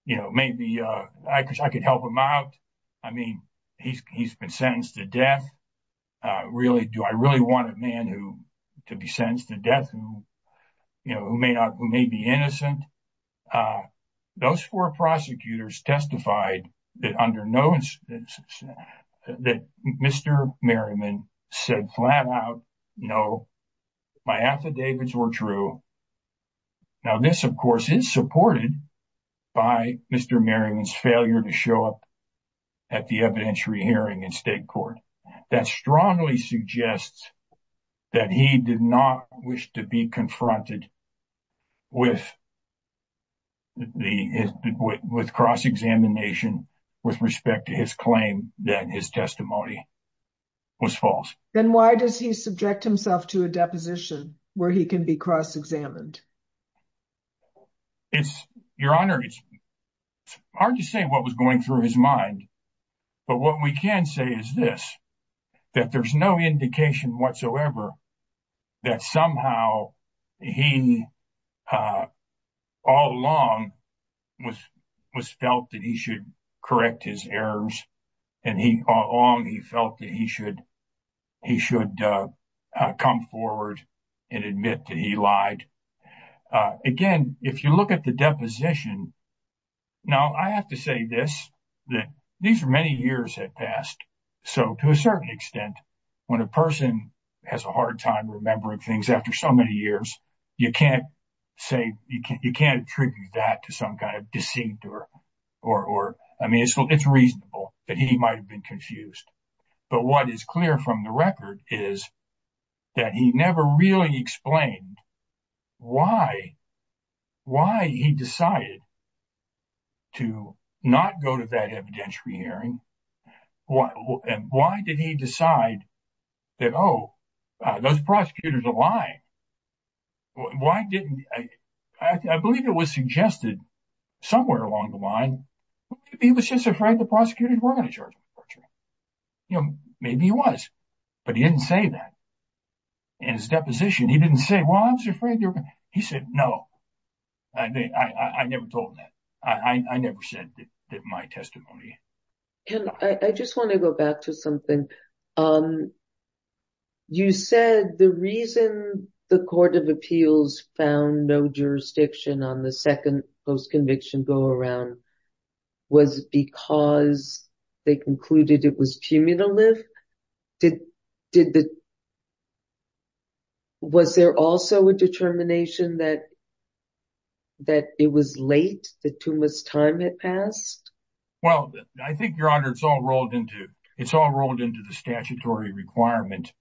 maybe I could help him out. I mean, he's been sentenced to death. Do I really want a man to be sentenced to death who may be innocent? And those four prosecutors testified that Mr. Merriman said flat out, no, my affidavits were true. Now, this, of course, is supported by Mr. Merriman's failure to show up at the evidentiary hearing in state court. That strongly suggests that he did not wish to be confronted with cross-examination with respect to his claim that his testimony was false. Then why does he subject himself to a deposition where he can be cross-examined? Your Honor, it's hard to say what was going through his mind. But what we can say is this, that there's no indication whatsoever that somehow he all along was felt that he should correct his errors, and all along he felt that he should come forward and admit that he lied. Again, if you look at the deposition, now, I have to say this, that these are many years that passed. So to a certain extent, when a person has a hard time remembering things after so many years, you can't attribute that to some kind of deceit. I mean, it's reasonable that he might have been confused. But what is clear from the record is that he never really explained why he decided to not go to that evidentiary hearing. Why did he decide that, oh, those prosecutors are lying? I believe it was suggested somewhere along the line, he was just afraid the prosecutors were going to charge him with torture. Maybe he was, but he didn't say that. In his deposition, he didn't say, well, I was afraid they were going to. He said, no, I never told them that. I never said that my testimony. I just want to go back to something. You said the reason the Court of Appeals found no jurisdiction on the second post-conviction go-around was because they concluded it was cumulative. Was there also a determination that it was late, that too much time had passed? Well, I think, Your Honor, it's all rolled into the statutory requirement.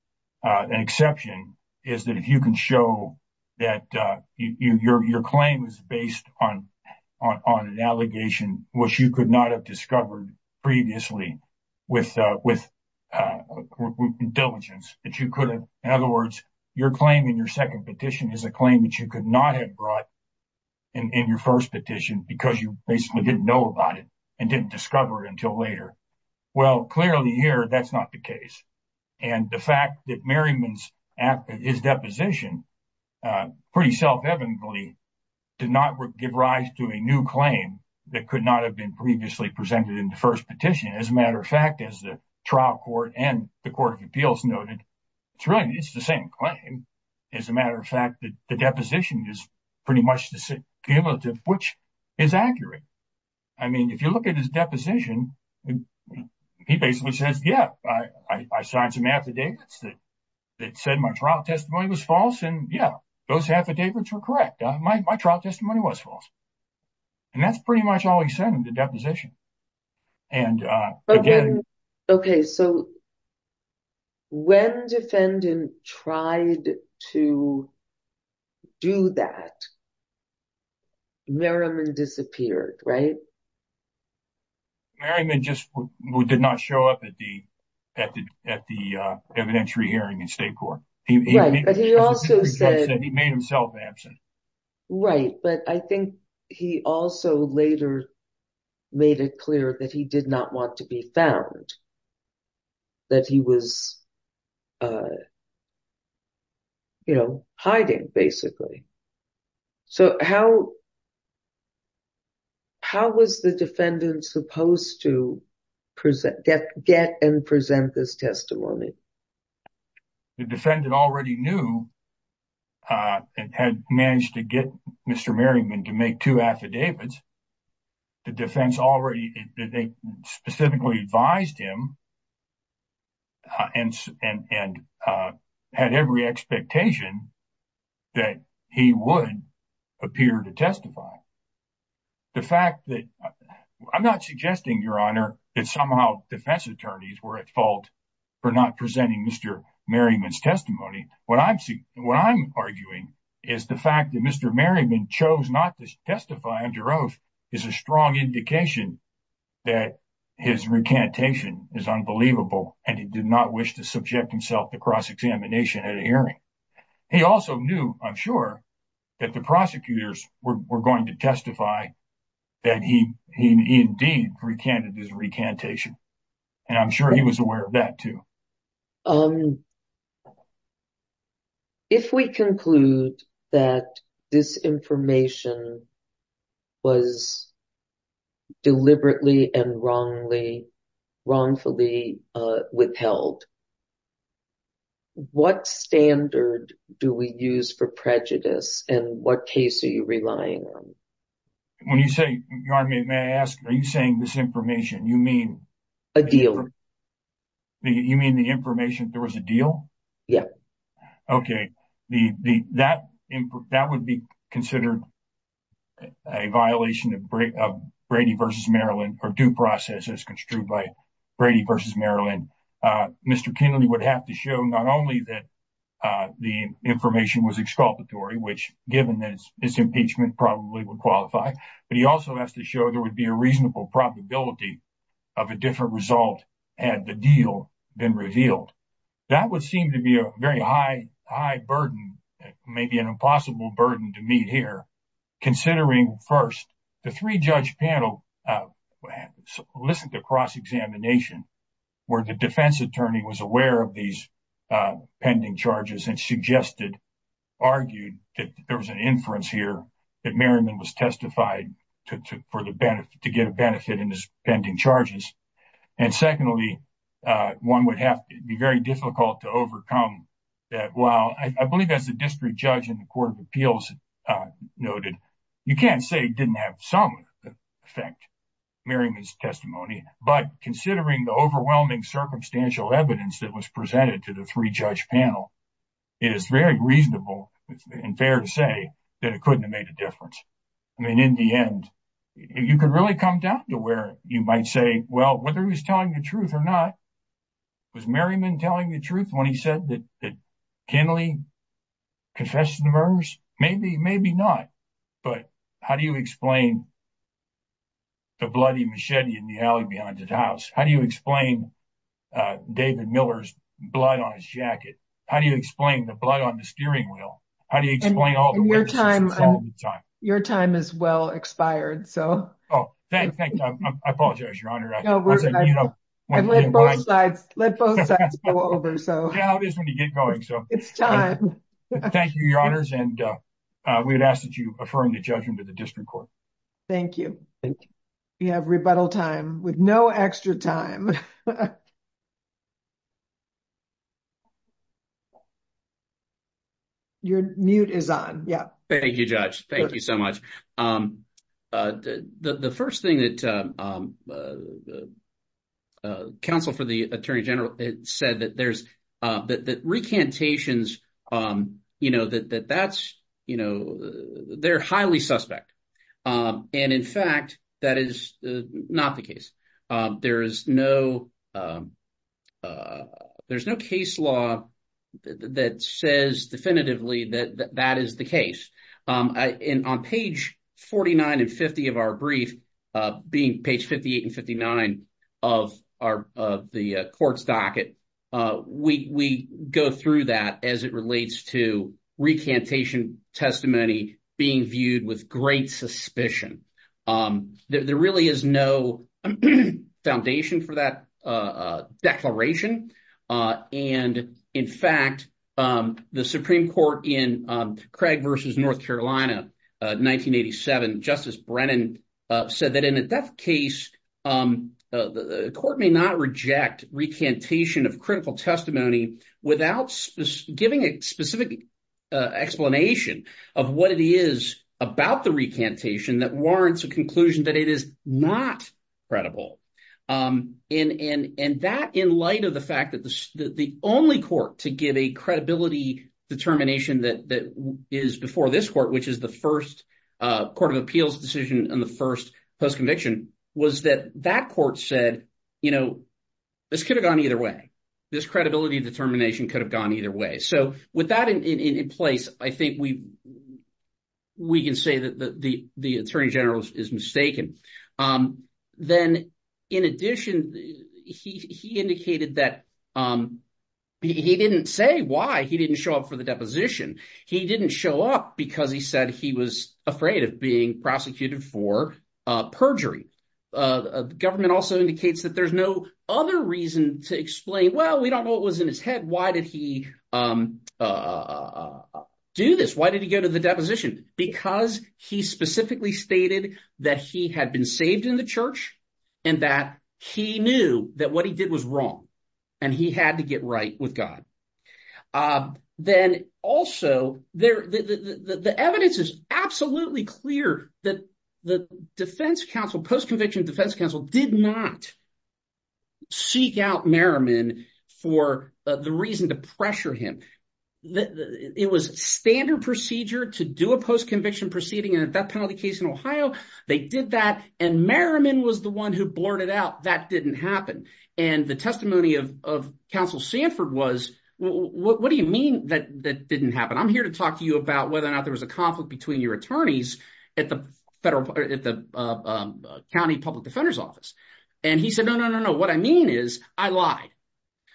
An exception is that if you can show that your claim is based on an allegation which you could not have discovered previously with diligence. In other words, your claim in your second petition is a claim that you could not have brought in your first petition because you basically didn't know about it and didn't discover it until later. Well, clearly here, that's not the case. The fact that Merriman's deposition, pretty self-evidently, did not give rise to a new claim that could not have been previously presented in the first petition. As a matter of fact, as the trial court and the Court of Appeals noted, it's the same claim. As a matter of fact, the deposition is pretty much cumulative, which is accurate. If you look at his deposition, he basically says, yeah, I signed some affidavits that said my trial testimony was false, and yeah, those affidavits were correct. My trial testimony was false. And that's pretty much all he said in the deposition. And again- Okay, so when defendant tried to do that, Merriman disappeared, right? Merriman just did not show up at the evidentiary hearing in state court. Right, but he also said- He made himself absent. Right, but I think he also later made it clear that he did not want to be found, that he was hiding, basically. So how was the defendant supposed to get and present this testimony? The defendant already knew and had managed to get Mr. Merriman to make two affidavits. The defense already- they specifically advised him and had every expectation that he would appear to testify. The fact that- I'm not suggesting, Your Honor, that somehow defense attorneys were at fault for not presenting Mr. Merriman's testimony. What I'm arguing is the fact that Mr. Merriman chose not to testify under oath is a strong indication that his recantation is unbelievable, and he did not wish to subject himself to cross-examination at a hearing. He also knew, I'm sure, that the prosecutors were going to testify that he indeed recanted his recantation. And I'm sure he was aware of that, too. If we conclude that this information was deliberately and wrongfully withheld, what standard do we use for prejudice, and what case are you relying on? When you say- Your Honor, may I ask, are you saying disinformation? You mean- A deal. You mean the information that there was a deal? Yeah. Okay. That would be considered a violation of Brady v. Maryland, or due process as construed by Brady v. Maryland. Mr. Kennedy would have to show not only that the information was exculpatory, which, given that it's impeachment, probably would qualify, but he also has to show there would be a reasonable probability of a different result had the deal been revealed. That would seem to be a very high burden, maybe an impossible burden to meet here, considering, first, the three-judge panel listened to cross-examination, where the defense attorney was aware of these pending charges and suggested, argued, that there was an inference here that Merriman was testified to get a benefit in his pending charges. Secondly, one would have to be very difficult to overcome. While I believe, as the district judge in the Court of Appeals noted, you can't say it didn't have some effect, Merriman's testimony, but considering the overwhelming circumstantial evidence that was presented to the three-judge panel, it is very reasonable and fair to say that it couldn't have made a difference. In the end, you could really come down to where you might say, well, whether he was telling the truth or not, was Merriman telling the truth when he said that Kenley confessed to the murders? Maybe, maybe not, but how do you explain the bloody machete in the alley behind his house? How do you explain David Miller's blood on his jacket? How do you explain the blood on the steering wheel? How do you explain all the witnesses? And your time, your time is well expired, so. Oh, thank you. I apologize, Your Honor. No, we're, I've let both sides, let both sides go over, so. Yeah, it is when you get going, so. It's time. Thank you, Your Honors, and we would ask that you affirm the judgment of the district court. Thank you. We have rebuttal time with no extra time. Your mute is on, yeah. Thank you, Judge. Thank you so much. The first thing that counsel for the Attorney General said that there's, that recantations, you know, that that's, you know, they're highly suspect. And in fact, that is not the case. There is no, there's no case law that says definitively that that is the case. And on page 49 and 50 of our brief, being page 58 and 59 of our, of the court's docket, we go through that as it relates to recantation testimony being viewed with great suspicion. There really is no foundation for that declaration. And in fact, the Supreme Court in Craig v. North Carolina, 1987, Justice Brennan said that in a death case, the court may not reject recantation of critical testimony without giving a specific explanation of what it is about the recantation that warrants a conclusion that it is not credible. And that in light of the fact that the only court to give a credibility determination that is before this court, which is the first court of appeals decision and the first post-conviction, was that that court said, you know, this could have gone either way. This credibility determination could have gone either way. So with that in place, I think we can say that the Attorney General is mistaken. Then in addition, he indicated that he didn't say why he didn't show up for the deposition. He didn't show up because he said he was afraid of being prosecuted for perjury. Government also indicates that there's no other reason to explain, well, we don't know what was in his head. Why did he do this? Why did he go to the deposition? Because he specifically stated that he had been saved in the church and that he knew that what he did was wrong and he had to get right with God. Then also, the evidence is absolutely clear that the defense counsel, post-conviction defense counsel, did not seek out Merriman for the reason to pressure him. It was standard procedure to do a post-conviction proceeding and that penalty case in Ohio, they did that and Merriman was the one who blurted out that didn't happen. The testimony of counsel Sanford was, what do you mean that didn't happen? I'm here to talk to you about whether or not there was a conflict between your attorneys at the county public defender's office. He said, no, no, no, no. What I mean is I lied.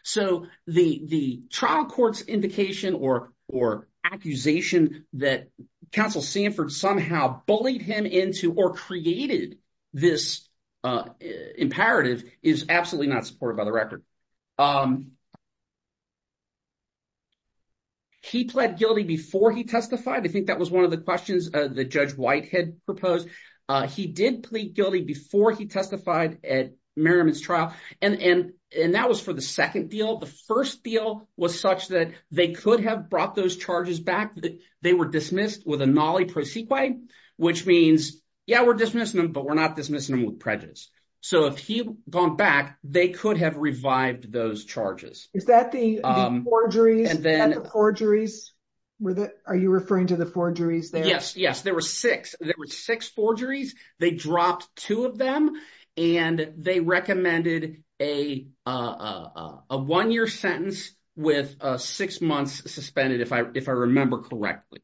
So the trial court's indication or accusation that counsel Sanford somehow bullied him into or created this imperative is absolutely not supported by the record. He pled guilty before he testified. I think that was one of the questions that Judge White had proposed. He did plead guilty before he testified at Merriman's trial and that was for the second deal. The first deal was such that they could have brought those charges back. They were dismissed with a nollie pro sequoia, which means, yeah, we're dismissing them, but we're not dismissing them with prejudice. So if he had gone back, they could have revived those charges. Is that the forgeries? Are you referring to the forgeries there? Yes, yes. There were six. There were six forgeries. They dropped two of them and they recommended a one-year sentence with six months suspended, if I remember correctly.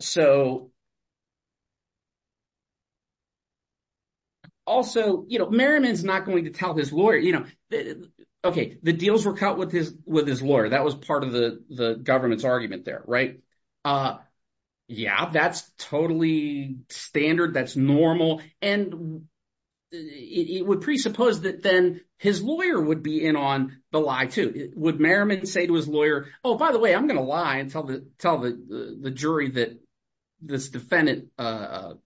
So also, Merriman's not going to tell his lawyer, okay, the deals were cut with his lawyer. That was part of the government's argument there, right? Yeah, that's totally standard. That's normal. And it would presuppose that then his lawyer would be in on the lie too. Would Merriman say to his lawyer, oh, by the way, I'm going to lie and tell the jury that this defendant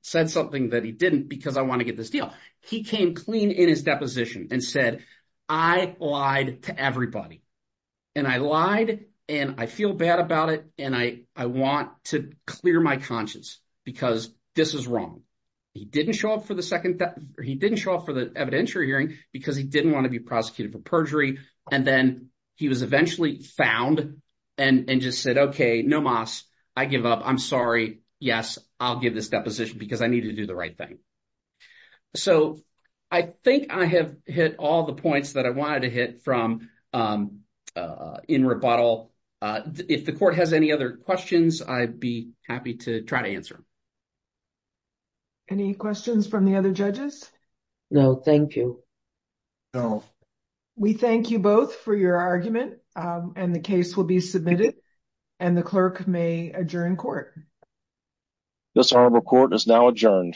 said something that he didn't because I want to get this deal. He came clean in his deposition and said, I lied to everybody and I lied and I feel bad about it. And I want to clear my conscience because this is wrong. He didn't show up for the evidentiary hearing because he didn't want to be prosecuted for perjury. And then he was eventually found and just said, okay, no mas, I give up. I'm sorry. Yes, I'll give this deposition because I need to do the right thing. So I think I have hit all the points that I wanted to hit from in rebuttal. If the court has any other questions, I'd be happy to try to answer. Any questions from the other judges? No, thank you. No, we thank you both for your argument. And the case will be submitted and the clerk may adjourn court. This honorable court is now adjourned.